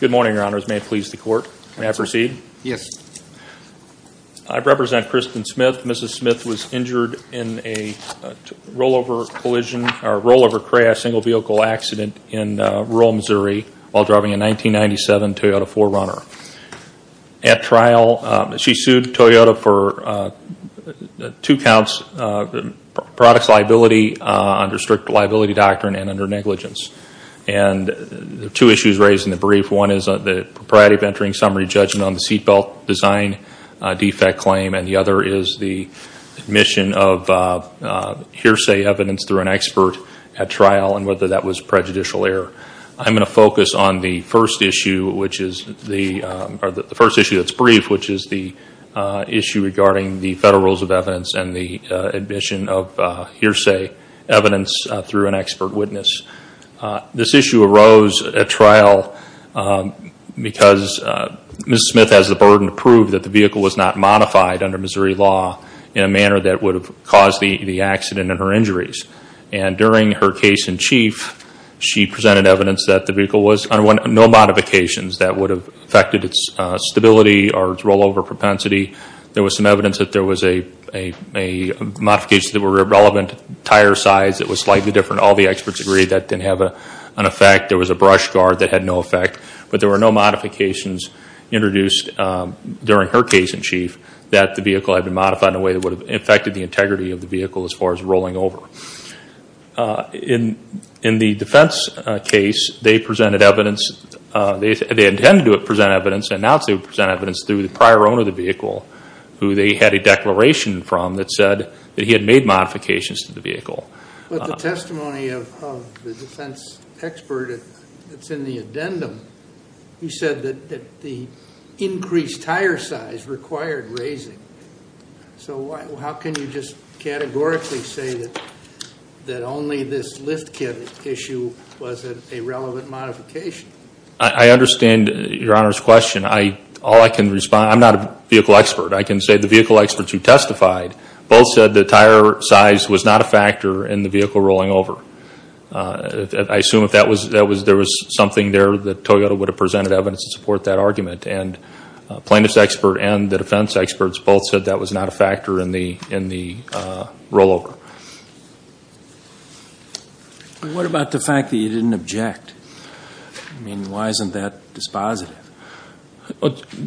Good morning, Your Honors. May it please the Court. May I proceed? I represent Kristen Smith. Mrs. Smith was injured in a rollover crash, single vehicle accident in rural Missouri while driving a 1997 Toyota 4Runner. At trial, she sued Toyota for two counts, products liability under strict liability doctrine and under negligence. There are two issues raised in the brief. One is the propriety of entering summary judgment on the seat belt design defect claim and the other is the admission of hearsay evidence through an expert at trial and whether that was prejudicial error. I'm going to focus on the first issue that's brief, which is the issue regarding the federal rules of evidence and the admission of hearsay evidence through an expert witness. This issue arose at trial because Mrs. Smith has the burden to prove that the vehicle was not modified under Missouri law in a manner that would have caused the accident and her injuries. During her case in chief, she presented evidence that the vehicle was no modifications that would have affected its stability or its rollover propensity. There was some evidence that there was a modification that were relevant, tire size that was slightly different. All the experts agreed that didn't have an effect. There was a brush guard that had no effect, but there were no modifications introduced during her case in chief that the vehicle had been modified in a way that would have affected the integrity of the vehicle as far as rolling over. In the defense case, they intended to present evidence and announced they would present evidence through the prior owner of the vehicle, who they had a declaration from that said that he had made modifications to the vehicle. But the testimony of the defense expert that's in the addendum, you said that the increased tire size required raising. So how can you just categorically say that only this lift kit issue wasn't a relevant modification? I understand your Honor's question. I'm not a vehicle expert. I can say the vehicle experts who testified both said the tire size was not a factor in the vehicle rolling over. I assume there was something there that Toyota would have presented evidence to support that argument and plaintiff's expert and the defense experts both said that was not a factor in the roll over. What about the fact that you didn't object? I mean, why isn't that dispositive?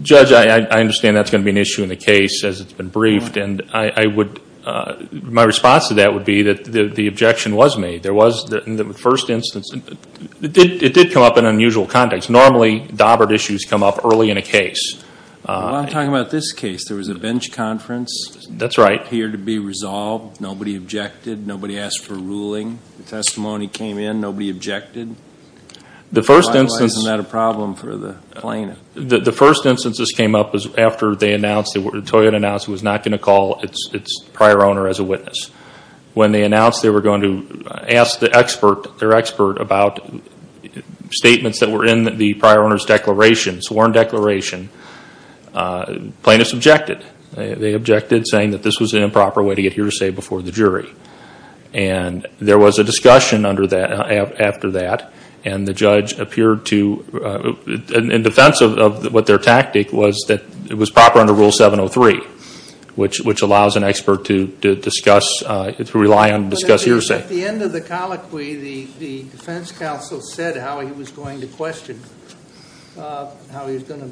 Judge, I understand that's going to be an issue in the case as it's been briefed. My response to that would be that the objection was made. In the first instance, it did come up in unusual context. Normally, dobbered issues come up early in a case. I'm talking about this case. There was a bench conference here to be resolved. Nobody objected. Nobody asked for a ruling. The testimony came in. Nobody objected. Why wasn't that a problem for the plaintiff? The first instance this came up was after Toyota announced it was not going to call its prior owner as a witness. When they announced they were going to ask their expert about statements that were in the prior owner's declaration, sworn declaration, plaintiffs objected. They objected saying that this was an improper way to get hearsay before the jury. There was a discussion after that and the judge appeared to, in defense of what their tactic was, that it was proper under Rule 703, which allows an expert to discuss, to rely on, to discuss hearsay. At the end of the colloquy, the defense counsel said how he was going to question, how he was going to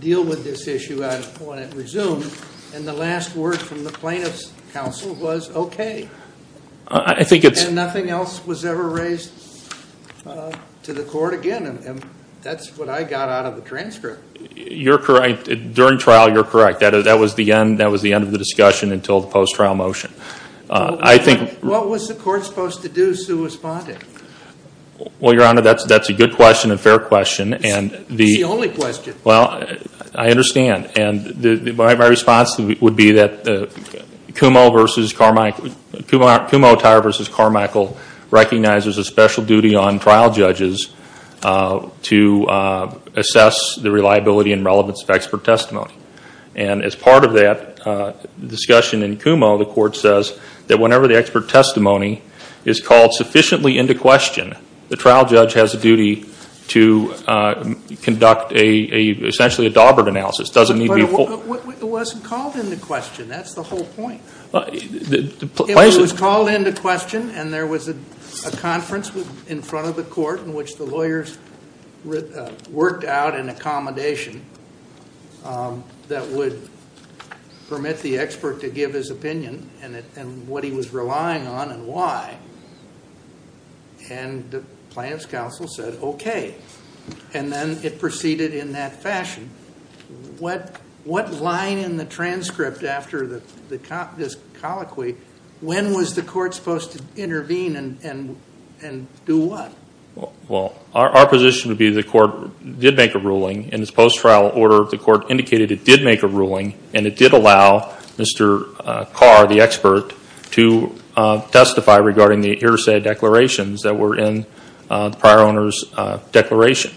deal with this issue when it resumed. The last word from the plaintiff's counsel was, okay, and nothing else was ever raised to the court again. That's what I got out of the transcript. You're correct. During trial, you're correct. That was the end of the discussion until the post-trial motion. What was the court supposed to do, Sue, responding? Well, Your Honor, that's a good question and a fair question. It's the only question. Well, I understand. My response would be that Kumho Attire v. Carmichael recognizes a special duty on trial judges to assess the reliability and relevance of expert testimony. As part of that discussion in Kumho, the court says that whenever the expert testimony is called sufficiently into question, the trial judge has a duty to conduct essentially a Dawbert analysis. But it wasn't called into question. That's the whole point. If it was called into question and there was a conference in front of the court in which the lawyers worked out an accommodation that would permit the expert to give his opinion and what he was relying on and why, and the plaintiff's counsel said, okay, and then it proceeded in that fashion. What line in the transcript after this colloquy, when was the court supposed to intervene and do what? Well, our position would be the court did make a ruling. In its post-trial order, the court indicated it did make a ruling and it did allow Mr. Carr, the expert, to testify regarding the hearsay declarations that were in the prior owner's declaration.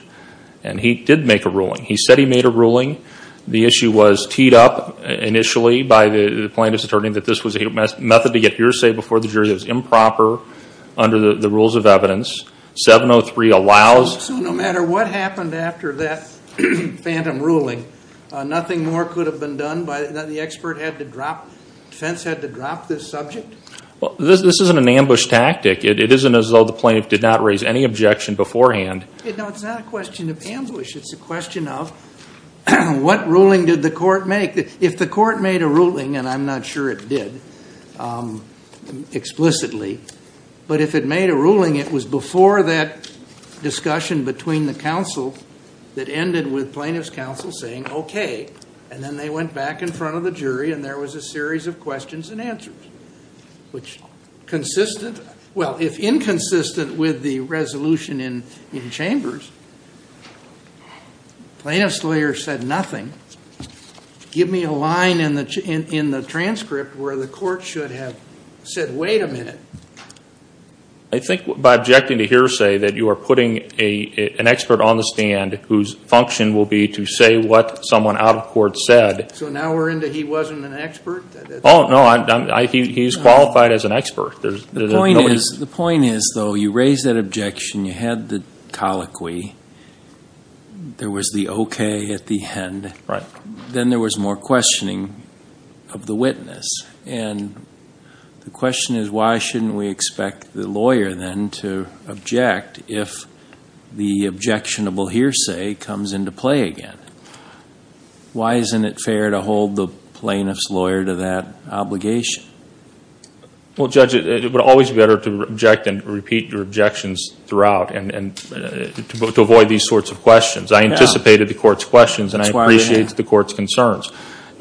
And he did make a ruling. He said he made a ruling. The issue was teed up initially by the plaintiff's attorney that this was a method to get hearsay before the jury. It was improper under the 703 allows. So no matter what happened after that phantom ruling, nothing more could have been done by the expert had to drop, defense had to drop this subject? This isn't an ambush tactic. It isn't as though the plaintiff did not raise any objection beforehand. No, it's not a question of ambush. It's a question of what ruling did the court make? If the court made a ruling, and I'm not sure it did explicitly, but if it made a ruling it was before that discussion between the counsel that ended with plaintiff's counsel saying okay. And then they went back in front of the jury and there was a series of questions and answers. Which consistent, well, if inconsistent with the resolution in chambers, plaintiff's lawyer said nothing. Give me a line in the transcript where the court should have said wait a minute. I think by objecting to hearsay that you are putting an expert on the stand whose function will be to say what someone out of court said. So now we're into he wasn't an expert? Oh no, he's qualified as an expert. The point is though, you raised that objection, you had the colloquy, there was the okay at the end. Then there was more questioning of the witness. And the question is why should we expect the lawyer then to object if the objectionable hearsay comes into play again? Why isn't it fair to hold the plaintiff's lawyer to that obligation? Well Judge, it would always be better to object than to repeat your objections throughout and to avoid these sorts of questions. I anticipated the court's questions and I appreciate the court's concerns.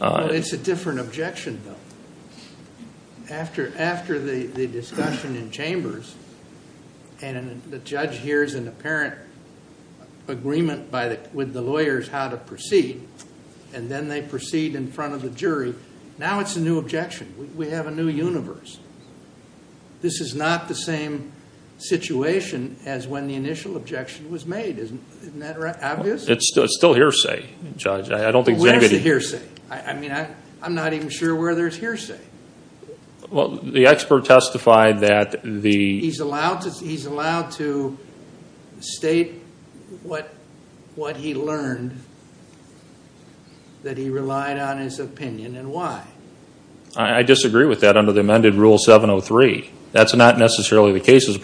It's a different objection though. After the discussion in chambers and the judge hears an apparent agreement with the lawyers how to proceed, and then they proceed in front of the jury, now it's a new objection. We have a new universe. This is not the same situation as when the initial objection was made. Isn't that obvious? It's still hearsay, Judge. Where's the hearsay? I'm not even sure where there's hearsay. The expert testified that the... He's allowed to state what he learned, that he relied on his opinion and why. I disagree with that under the amended Rule 703. That's not necessarily the case. It's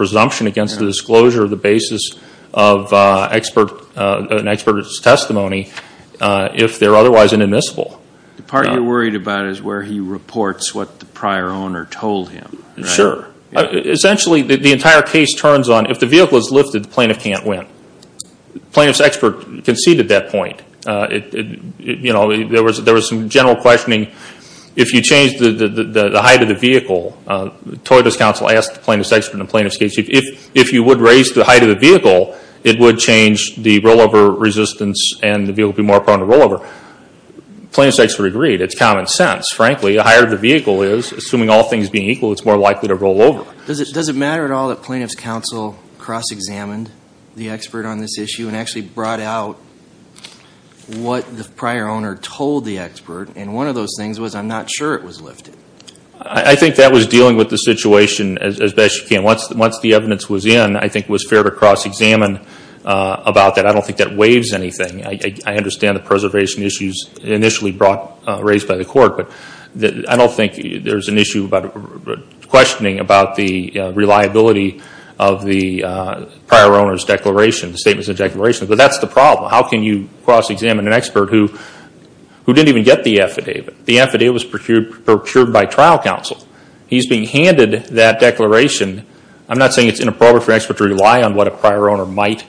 if they're otherwise inadmissible. The part you're worried about is where he reports what the prior owner told him. Sure. Essentially, the entire case turns on if the vehicle is lifted, the plaintiff can't win. The plaintiff's expert conceded that point. There was some general questioning. If you change the height of the vehicle, Toyota's counsel asked the plaintiff's expert and the plaintiff's case chief, if you would raise the height of the vehicle, it would change the rollover resistance and the vehicle would be more prone to rollover. The plaintiff's expert agreed. It's common sense. Frankly, the higher the vehicle is, assuming all things being equal, it's more likely to rollover. Does it matter at all that plaintiff's counsel cross-examined the expert on this issue and actually brought out what the prior owner told the expert? One of those things was, I'm not sure it was lifted. I think that was dealing with the situation as best you can. Once the evidence was in, I think it was fair to cross-examine about that. I don't think that waives anything. I understand the preservation issues initially raised by the court, but I don't think there's an issue about questioning about the reliability of the prior owner's declaration, the statements in the declaration. But that's the problem. How can you cross-examine an expert who didn't even get the affidavit? The affidavit was procured by trial counsel. He's being handed that declaration. I'm not saying it's inappropriate for an expert to rely on what a prior owner might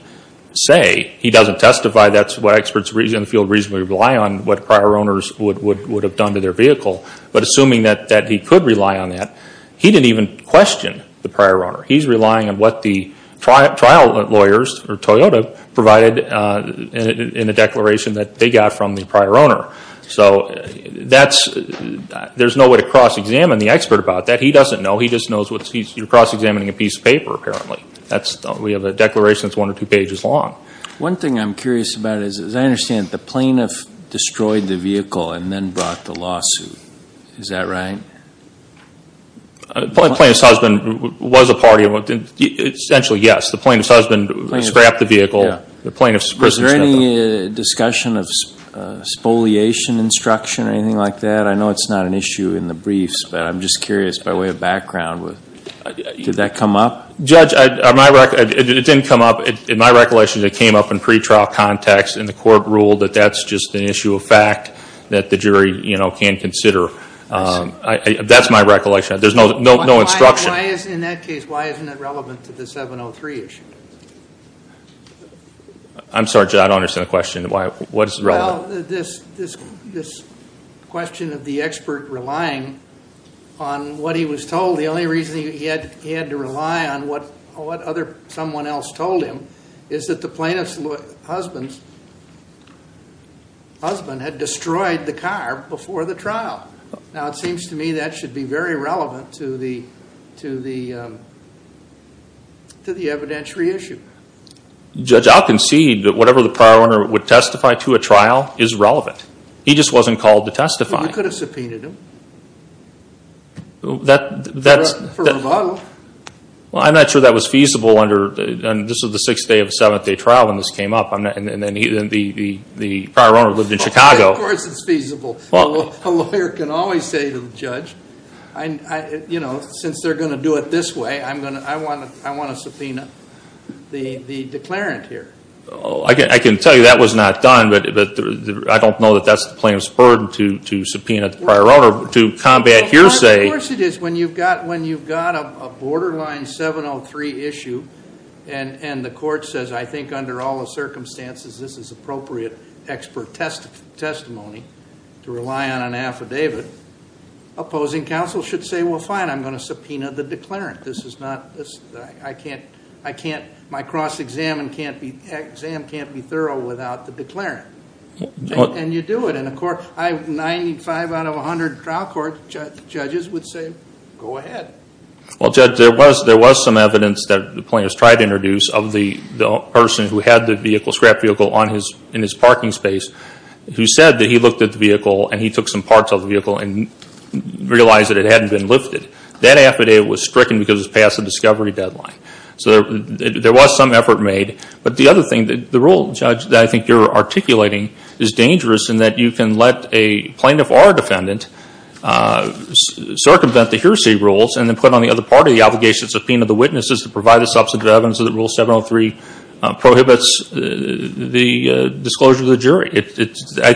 say. He doesn't testify. That's what experts in the field reasonably rely on, what prior owners would have done to their vehicle. But assuming that he could rely on that, he didn't even question the prior owner. He's relying on what the trial lawyers, or Toyota, provided in the declaration that they got from the prior owner. There's no way to cross-examine the expert about that. He doesn't know. He just knows you're cross-examining a piece of paper, apparently. We have a declaration that's one or two pages long. One thing I'm curious about is, as I understand it, the plaintiff destroyed the vehicle and then brought the lawsuit. Is that right? The plaintiff's husband was a part of it. Essentially, yes. The plaintiff's husband scrapped the vehicle. Was there any discussion of spoliation instruction or anything like that? I know it's not an issue of background. Did that come up? Judge, it didn't come up. In my recollection, it came up in pretrial context and the court ruled that that's just an issue of fact that the jury can consider. That's my recollection. There's no instruction. Why isn't it relevant to the 703 issue? I'm sorry, Judge. I don't understand the question. What is relevant? This question of the expert relying on what he was told, the only reason he had to rely on what someone else told him is that the plaintiff's husband had destroyed the car before the trial. Now, it seems to me that should be very relevant to the evidentiary issue. Judge, I'll concede that whatever the prior owner would testify to a trial is relevant. He just wasn't called to testify. You could have subpoenaed him for rebuttal. I'm not sure that was feasible under the sixth day of the seventh day trial when this came up and the prior owner lived in Chicago. Of course it's feasible. A lawyer can always say to the judge, since they're going to do it this way, I want to subpoena the declarant here. I can tell you that was not done, but I don't know that that's the plaintiff's burden to subpoena the prior owner to combat hearsay. Of course it is. When you've got a borderline 703 issue and the court says, I think under all the circumstances this is appropriate expert testimony to rely on an affidavit, opposing counsel should say, well fine, I'm going to subpoena the declarant. My cross-exam can't be thorough without the declarant. You do it. In a 95 out of 100 trial court, judges would say, go ahead. Judge, there was some evidence that the plaintiff's tried to introduce of the person who had the scrap vehicle in his parking space who said that he looked at the vehicle and he took some parts of the vehicle and realized that it hadn't been lifted. That affidavit was stricken because it was past the discovery deadline. So there was some effort made. But the other thing, the rule, Judge, that I think you're articulating is dangerous in that you can let a plaintiff or a defendant circumvent the hearsay rules and then put on the other part of the obligation to subpoena the witnesses to provide the substantive evidence that Rule 703 prohibits the disclosure of the jury. I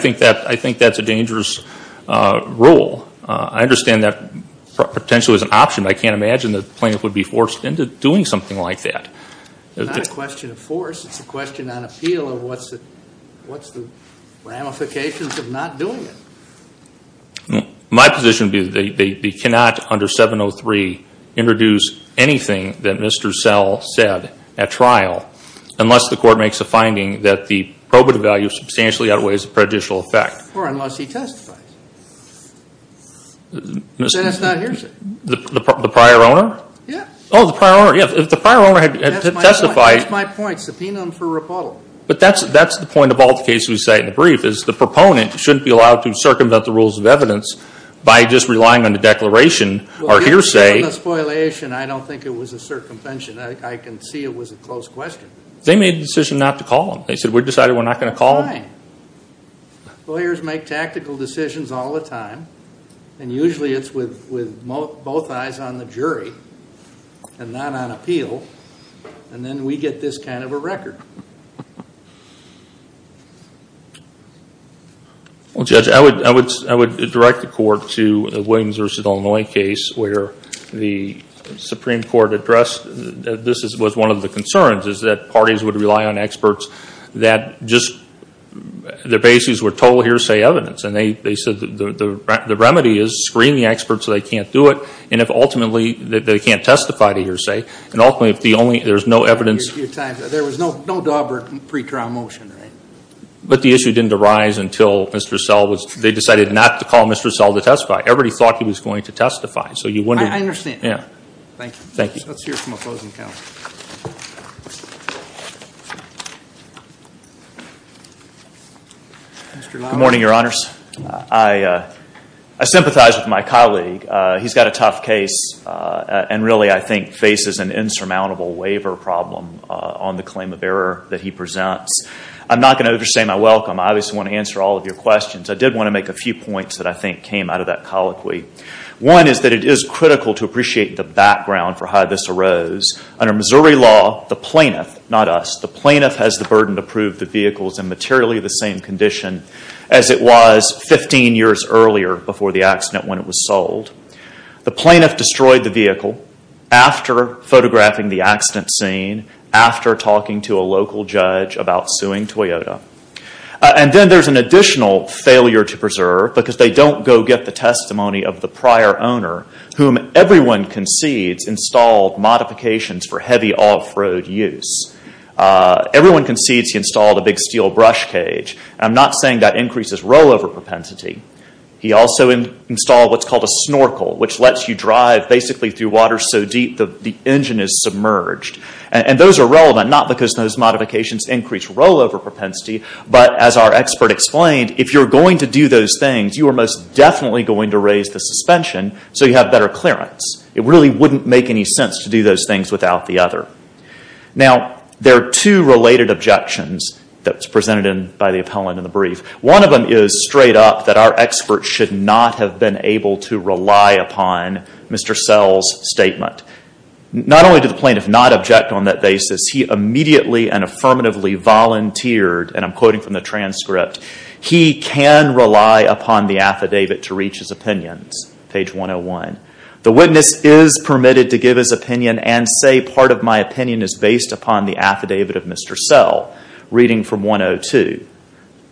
think that's a dangerous rule. I understand that potentially as an option, but I can't imagine that the plaintiff would be forced into doing something like that. It's not a question of force, it's a question on appeal of what's the ramifications of not doing it. My position would be that they cannot, under 703, introduce anything that Mr. Sell said at trial unless the court makes a finding that the probative value substantially outweighs the prejudicial effect. Or unless he testifies. Then it's not hearsay. The prior owner? Yeah. Oh, the prior owner. Yeah, if the prior owner had testified. That's my point. Subpoena him for rebuttal. But that's the point of all the cases we cite in the brief, is the proponent shouldn't be allowed to circumvent the rules of evidence by just relying on the declaration or hearsay. Well, given the spoliation, I don't think it was a circumvention. I can see it was a close question. They made the decision not to call him. They said, we've decided we're not going to call him. Fine. Lawyers make tactical decisions all the time. And usually it's with both eyes on the jury and not on appeal. And then we get this kind of a record. Well, Judge, I would direct the court to the Williams v. Illinois case where the Supreme Court addressed, this was one of the concerns, is that parties would rely on experts that just, their bases were total hearsay evidence. And they said the remedy is screen the experts so they can't do it. And if ultimately they can't testify to hearsay, and ultimately if the only, there's no evidence. There was no Daubert pre-trial motion. But the issue didn't arise until Mr. Sell, they decided not to call Mr. Sell to testify. Everybody thought he was going to testify. So you wouldn't. I understand. Yeah. Thank you. Thank you. Let's hear from a closing comment. Good morning, your honors. I sympathize with my colleague. He's got a tough case. And really, I think, faces an insurmountable waiver problem on the claim of error that he presents. I'm not going to overstate my welcome. I obviously want to answer all of your questions. I did want to make a few points that I think came out of that colloquy. One is that it is critical to appreciate the background for how this arose. Under Missouri law, the plaintiff, not us, the plaintiff has the burden to prove the vehicle is in materially the same condition as it was 15 years earlier before the accident when it was sold. The plaintiff destroyed the vehicle after photographing the accident scene, after talking to a local judge about suing Toyota. And then there's an additional failure to preserve because they don't go get the testimony of the prior owner, whom everyone concedes installed modifications for heavy off-road use. Everyone concedes he installed a big steel brush cage. I'm not saying that increases rollover propensity. He also installed what's called a snorkel, which lets you drive basically through water so deep the engine is submerged. And those are relevant, not because those modifications increase rollover propensity, but as our expert explained, if you're going to do those things, you are most definitely going to raise the suspension so you have better clearance. It really wouldn't make any sense to do those things without the other. Now there are two related objections that was presented by the appellant in the brief. One of them is straight up that our expert should not have been able to rely upon Mr. Sell's statement. Not only did the plaintiff not object on that basis, he immediately and affirmatively volunteered, and I'm quoting from the transcript, he can rely upon the affidavit to reach his opinions. Page 101. The witness is permitted to give his opinion and say part of my opinion is based upon the affidavit of Mr. Sell, reading from 102.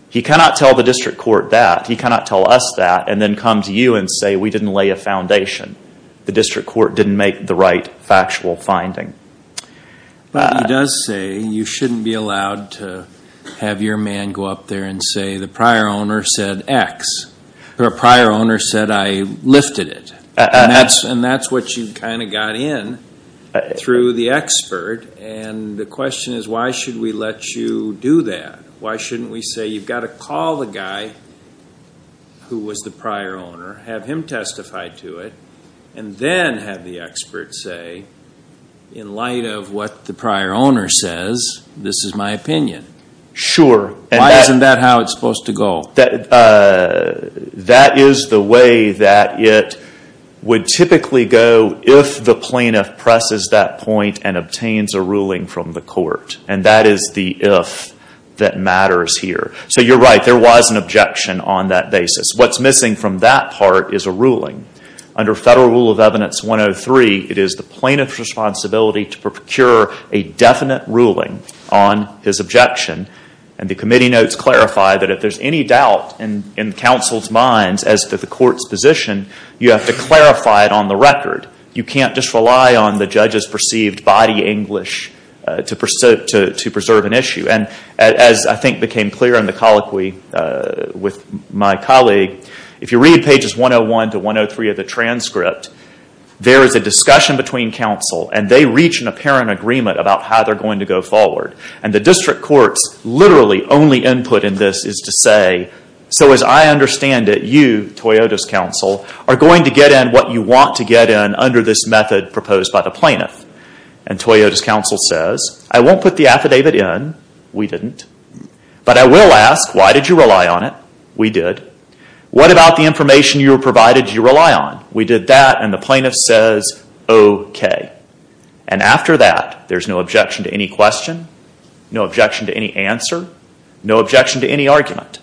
He cannot tell the district court that. He cannot tell us that and then come to you and say we didn't lay a foundation. The district court didn't make the right factual finding. He does say you shouldn't be allowed to have your man go up there and say the prior owner said X, or a prior owner said I lifted it, and that's what you kind of got in through the expert, and the question is why should we let you do that? Why shouldn't we say you've got to call the guy who was the prior owner, have him testify to it, and then have the expert say in light of what the prior owner says, this is my opinion? Sure. Why isn't that how it's supposed to go? That is the way that it would typically go if the plaintiff presses that point and obtains a ruling from the court, and that is the if that matters here. You're right. There was an objection on that basis. What's missing from that part is a ruling. Under Federal Rule of Evidence 103, it is the plaintiff's responsibility to procure a definite ruling on his objection, and the committee notes clarify that if there's any doubt in counsel's minds as to the court's position, you have to clarify it on the record. You can't just rely on the judge's perceived body English to preserve an issue. As I think became clear in the colloquy with my colleague, if you read pages 101 to 103 of the transcript, there is a discussion between counsel, and they reach an apparent agreement about how they're going to go forward. The district courts literally only input in this is to say, so as I understand it, you, Toyota's counsel, are going to get in what you want to get in under this method proposed by the plaintiff. And Toyota's counsel says, I won't put the affidavit in. We didn't. But I will ask, why did you rely on it? We did. What about the information you were provided you rely on? We did that, and the plaintiff says, okay. And after that, there's no objection to any question, no objection to any answer, no objection to any argument.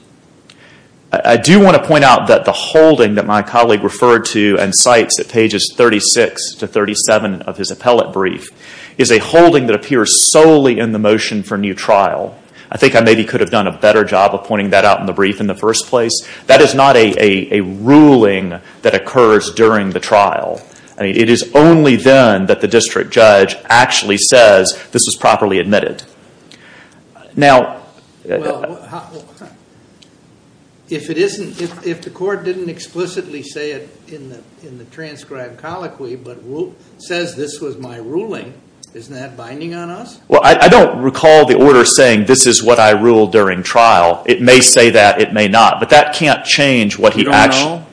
I do want to point out that the holding that my colleague referred to and cites at pages 36 to 37 of his appellate brief, is a holding that appears solely in the motion for new trial. I think I maybe could have done a better job of pointing that out in the brief in the first place. That is not a ruling that occurs during the trial. It is only then that the district judge actually says, this is properly admitted. Well, if the court didn't explicitly say it in the transcribed colloquy, but says this was my ruling, isn't that binding on us? Well, I don't recall the order saying, this is what I ruled during trial. It may say that. It may not. But that can't change what he actually. You don't know?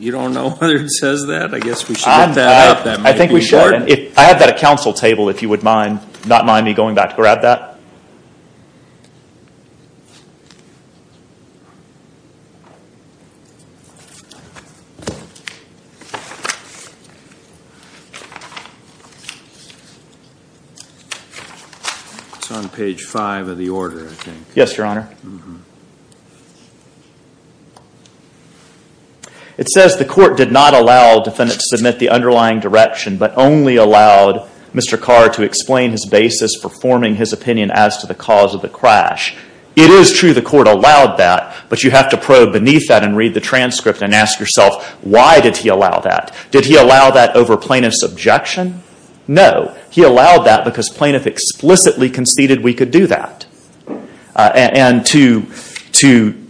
You don't know whether he says that? I guess we should look that up. I think we should. I have that at council table, if you would not mind me going back to grab that. It's on page five of the order, I think. Yes, Your Honor. It says the court did not allow defendants to submit the underlying direction, but only allowed Mr. Carr to explain his basis for forming his opinion as to the cause of the crash. It is true the court allowed that, but you have to probe beneath that and read the transcript and ask yourself, why did he allow that? Did he allow that over plaintiff's objection? No. He allowed that because plaintiff explicitly conceded we could do that. And to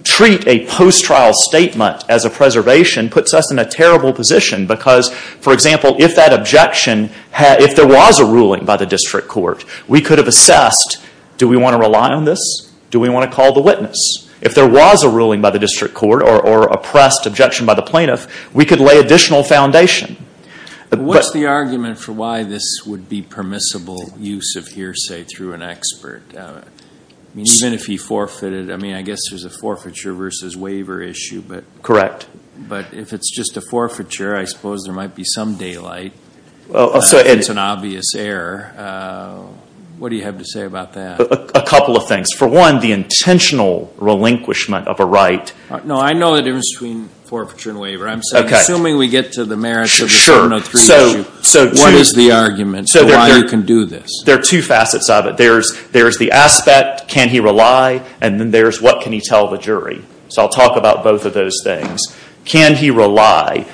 treat a post-trial statement as a preservation puts us in a terrible position because, for example, if that objection, if there was a ruling by the district court, we could have assessed, do we want to rely on this? Do we want to call the witness? If there was a ruling by the district court or oppressed objection by the plaintiff, we could lay additional foundation. What's the argument for why this would be permissible use of hearsay through an expert? Even if he forfeited, I mean, I guess there's a forfeiture versus waiver issue. Correct. But if it's just a forfeiture, I suppose there might be some daylight. It's an obvious error. What do you have to say about that? A couple of things. For one, the intentional relinquishment of a right. No, I know the difference between forfeiture and waiver. I'm assuming we get to the merits of the 703 issue. Sure. What is the argument for why you can do this? There are two facets of it. There's the aspect, can he rely? And then there's what can he tell the jury? So I'll talk about both of those things. Can he rely?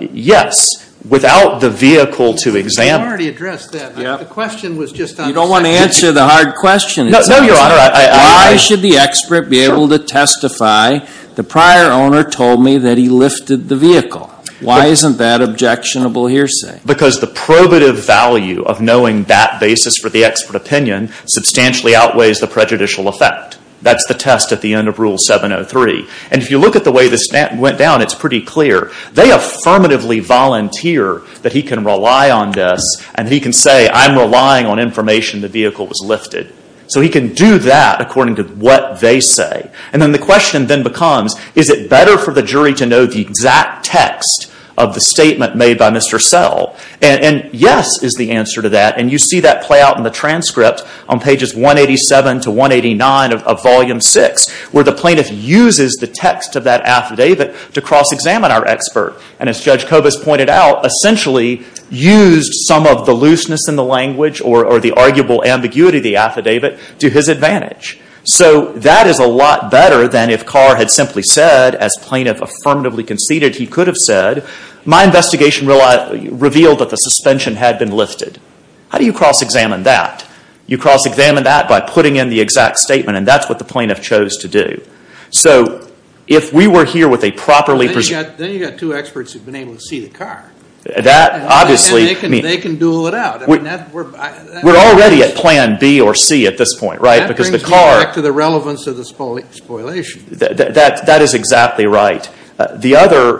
Yes. Without the vehicle to examine. You already addressed that. The question was just on. You don't want to answer the hard question. No, Your Honor. Why should the expert be able to testify? The prior owner told me that he lifted the vehicle. Why isn't that objectionable hearsay? Because the probative value of knowing that basis for the expert opinion substantially outweighs the prejudicial effect. That's the test at the end of Rule 703. And if you look at the way this went down, it's pretty clear. They affirmatively volunteer that he can rely on this and that he can say, I'm relying on information the vehicle was lifted. So he can do that according to what they say. And then the question then becomes, is it better for the jury to know the exact text of the statement made by Mr. Sell? And yes is the answer to that. And you see that play out in the transcript on pages 187 to 189 of Volume 6, where the plaintiff uses the text of that affidavit to cross-examine our expert. And as Judge Kobus pointed out, essentially used some of the looseness in the language or the arguable ambiguity of the affidavit to his advantage. So that is a lot better than if Carr had simply said, as plaintiff affirmatively conceded he could have said, my investigation revealed that the suspension had been lifted. How do you cross-examine that? You cross-examine that by putting in the exact statement, and that's what the plaintiff chose to do. So if we were here with a properly preserved – Then you've got two experts who've been able to see the car. That obviously – And they can duel it out. We're already at Plan B or C at this point, right? It brings me back to the relevance of the spoliation. That is exactly right. The other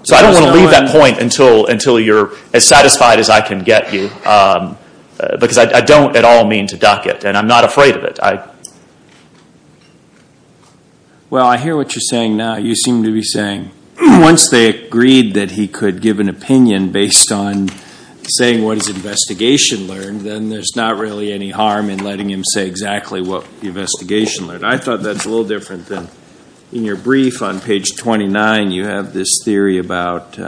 – So I don't want to leave that point until you're as satisfied as I can get you, because I don't at all mean to duck it, and I'm not afraid of it. Well, I hear what you're saying now. You seem to be saying once they agreed that he could give an opinion based on saying what his investigation learned, then there's not really any harm in letting him say exactly what the investigation learned. I thought that's a little different than – In your brief on page 29, you have this theory about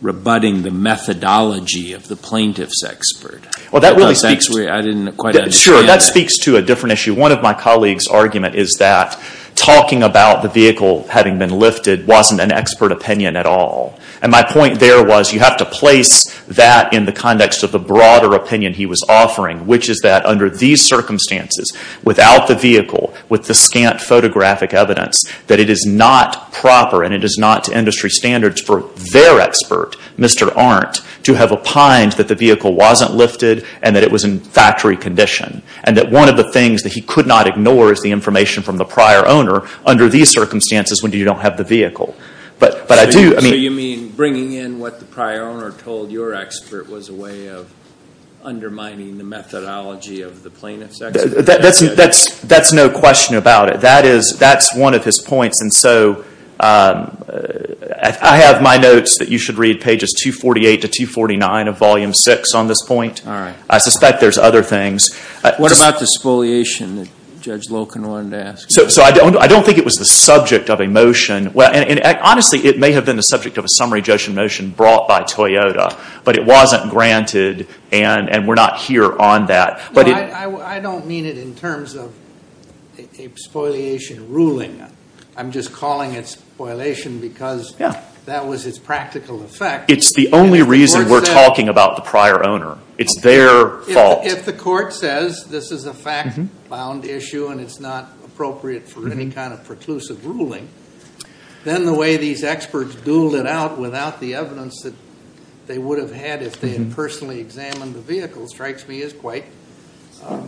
rebutting the methodology of the plaintiff's expert. Well, that really speaks to – I didn't quite understand – Sure, that speaks to a different issue. One of my colleagues' argument is that talking about the vehicle having been lifted wasn't an expert opinion at all. And my point there was you have to place that in the context of the broader opinion he was offering, which is that under these circumstances, without the vehicle, with the scant photographic evidence, that it is not proper, and it is not to industry standards for their expert, Mr. Arndt, to have opined that the vehicle wasn't lifted and that it was in factory condition. And that one of the things that he could not ignore is the information from the prior owner under these circumstances when you don't have the vehicle. But I do – So you mean bringing in what the prior owner told your expert was a way of undermining the methodology of the plaintiff's expert? That's no question about it. That's one of his points. And so I have my notes that you should read pages 248 to 249 of Volume 6 on this point. All right. I suspect there's other things. What about the exfoliation that Judge Loken wanted to ask? I don't think it was the subject of a motion. Honestly, it may have been the subject of a summary judgment motion brought by Toyota, but it wasn't granted and we're not here on that. I don't mean it in terms of exfoliation ruling. I'm just calling it exfoliation because that was its practical effect. It's the only reason we're talking about the prior owner. It's their fault. If the court says this is a fact-bound issue and it's not appropriate for any kind of preclusive ruling, then the way these experts dueled it out without the evidence that they would have had if they had personally examined the vehicle strikes me as quite fair.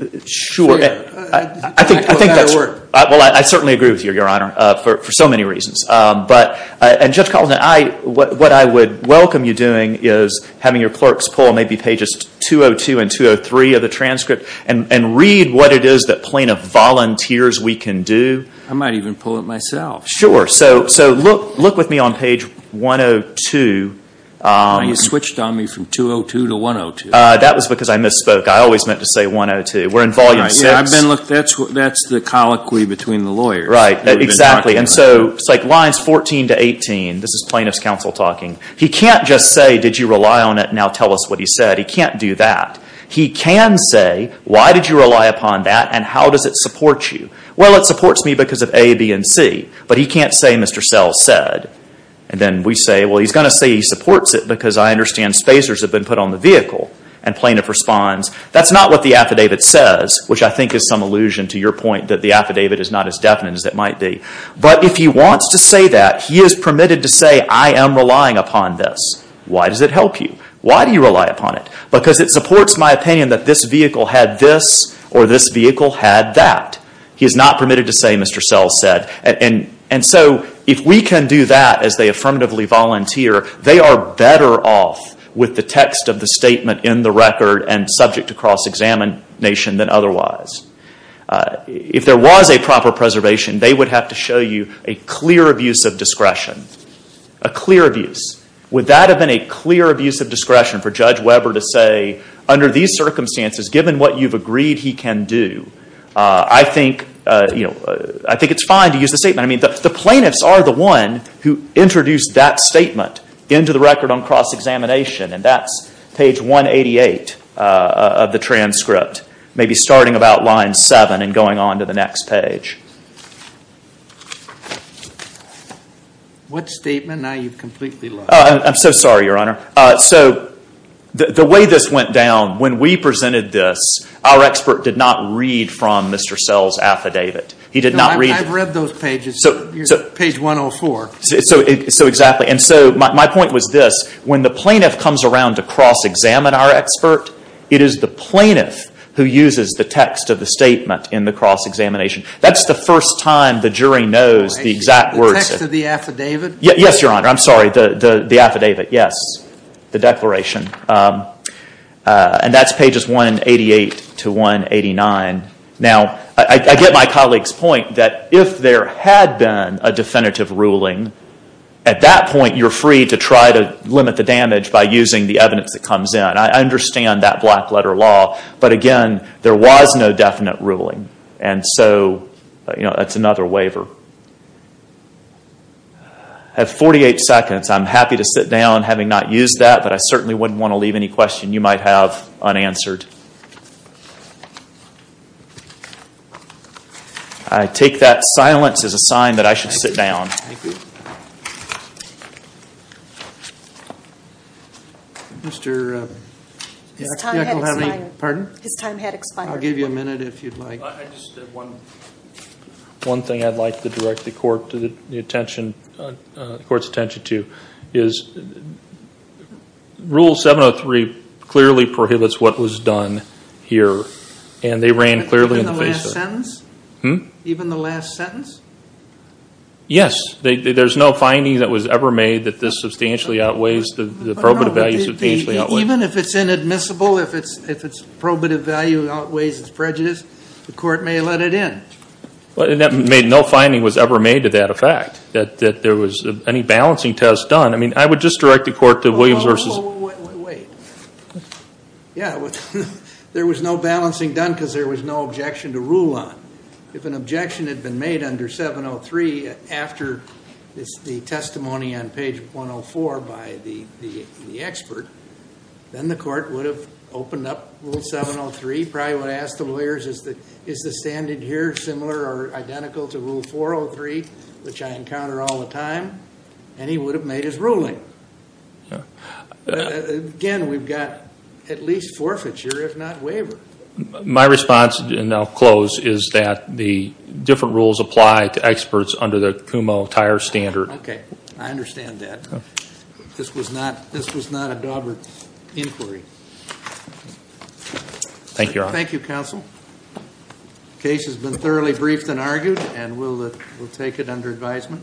I think that's – Well, I certainly agree with you, Your Honor, for so many reasons. And, Judge Caldwin, what I would welcome you doing is having your clerks pull maybe pages 202 and 203 of the transcript and read what it is that plaintiff volunteers we can do. I might even pull it myself. Sure. So look with me on page 102. You switched on me from 202 to 102. That was because I misspoke. I always meant to say 102. We're in Volume 6. Look, that's the colloquy between the lawyer. Right. Exactly. And so it's like lines 14 to 18. This is plaintiff's counsel talking. He can't just say, did you rely on it? Now tell us what he said. He can't do that. He can say, why did you rely upon that and how does it support you? Well, it supports me because of A, B, and C. But he can't say Mr. Sells said. And then we say, well, he's going to say he supports it because I understand spacers have been put on the vehicle. And plaintiff responds, that's not what the affidavit says, which I think is some allusion to your point that the affidavit is not as definite as it might be. But if he wants to say that, he is permitted to say, I am relying upon this. Why does it help you? Why do you rely upon it? Because it supports my opinion that this vehicle had this or this vehicle had that. He is not permitted to say Mr. Sells said. And so if we can do that as they affirmatively volunteer, they are better off with the text of the statement in the record and subject to cross-examination than otherwise. If there was a proper preservation, they would have to show you a clear abuse of discretion. A clear abuse. Would that have been a clear abuse of discretion for Judge Weber to say, under these circumstances, given what you've agreed he can do, I think it's fine to use the statement. I mean, the plaintiffs are the one who introduced that statement into the record on cross-examination. And that's page 188 of the transcript, maybe starting about line 7 and going on to the next page. What statement? Now you've completely lost me. I'm so sorry, Your Honor. So the way this went down, when we presented this, our expert did not read from Mr. Sells' affidavit. He did not read. No, I've read those pages. Page 104. So exactly. And so my point was this. When the plaintiff comes around to cross-examine our expert, it is the plaintiff who uses the text of the statement in the cross-examination. That's the first time the jury knows the exact words. The text of the affidavit? Yes, Your Honor. I'm sorry. The affidavit, yes. The declaration. And that's pages 188 to 189. Now, I get my colleague's point that if there had been a definitive ruling, at that point you're free to try to limit the damage by using the evidence that comes in. I understand that black-letter law. But again, there was no definite ruling. And so that's another waiver. I have 48 seconds. I'm happy to sit down having not used that, but I certainly wouldn't want to leave any question you might have unanswered. I take that silence as a sign that I should sit down. Thank you. Mr. Yackel had any? Pardon? His time had expired. I'll give you a minute if you'd like. I just have one thing I'd like to direct the court's attention to, is Rule 703 clearly prohibits what was done here, and they ran clearly in the face of it. Even the last sentence? Yes. There's no finding that was ever made that this substantially outweighs, the probative value substantially outweighs. Even if it's inadmissible, if its probative value outweighs its prejudice, the court may let it in. And no finding was ever made to that effect, that there was any balancing test done. I mean, I would just direct the court to Williams v. Wait. Yeah, there was no balancing done because there was no objection to rule on. If an objection had been made under 703 after the testimony on page 104 by the expert, then the court would have opened up Rule 703, probably would have asked the lawyers, is the standard here similar or identical to Rule 403, which I encounter all the time? And he would have made his ruling. Again, we've got at least forfeiture, if not waiver. My response, and I'll close, is that the different rules apply to experts under the Kumho Tire Standard. Okay. I understand that. This was not a Dawbert inquiry. Thank you, Your Honor. Thank you, Counsel. The case has been thoroughly briefed and argued, and we'll take it under advisement.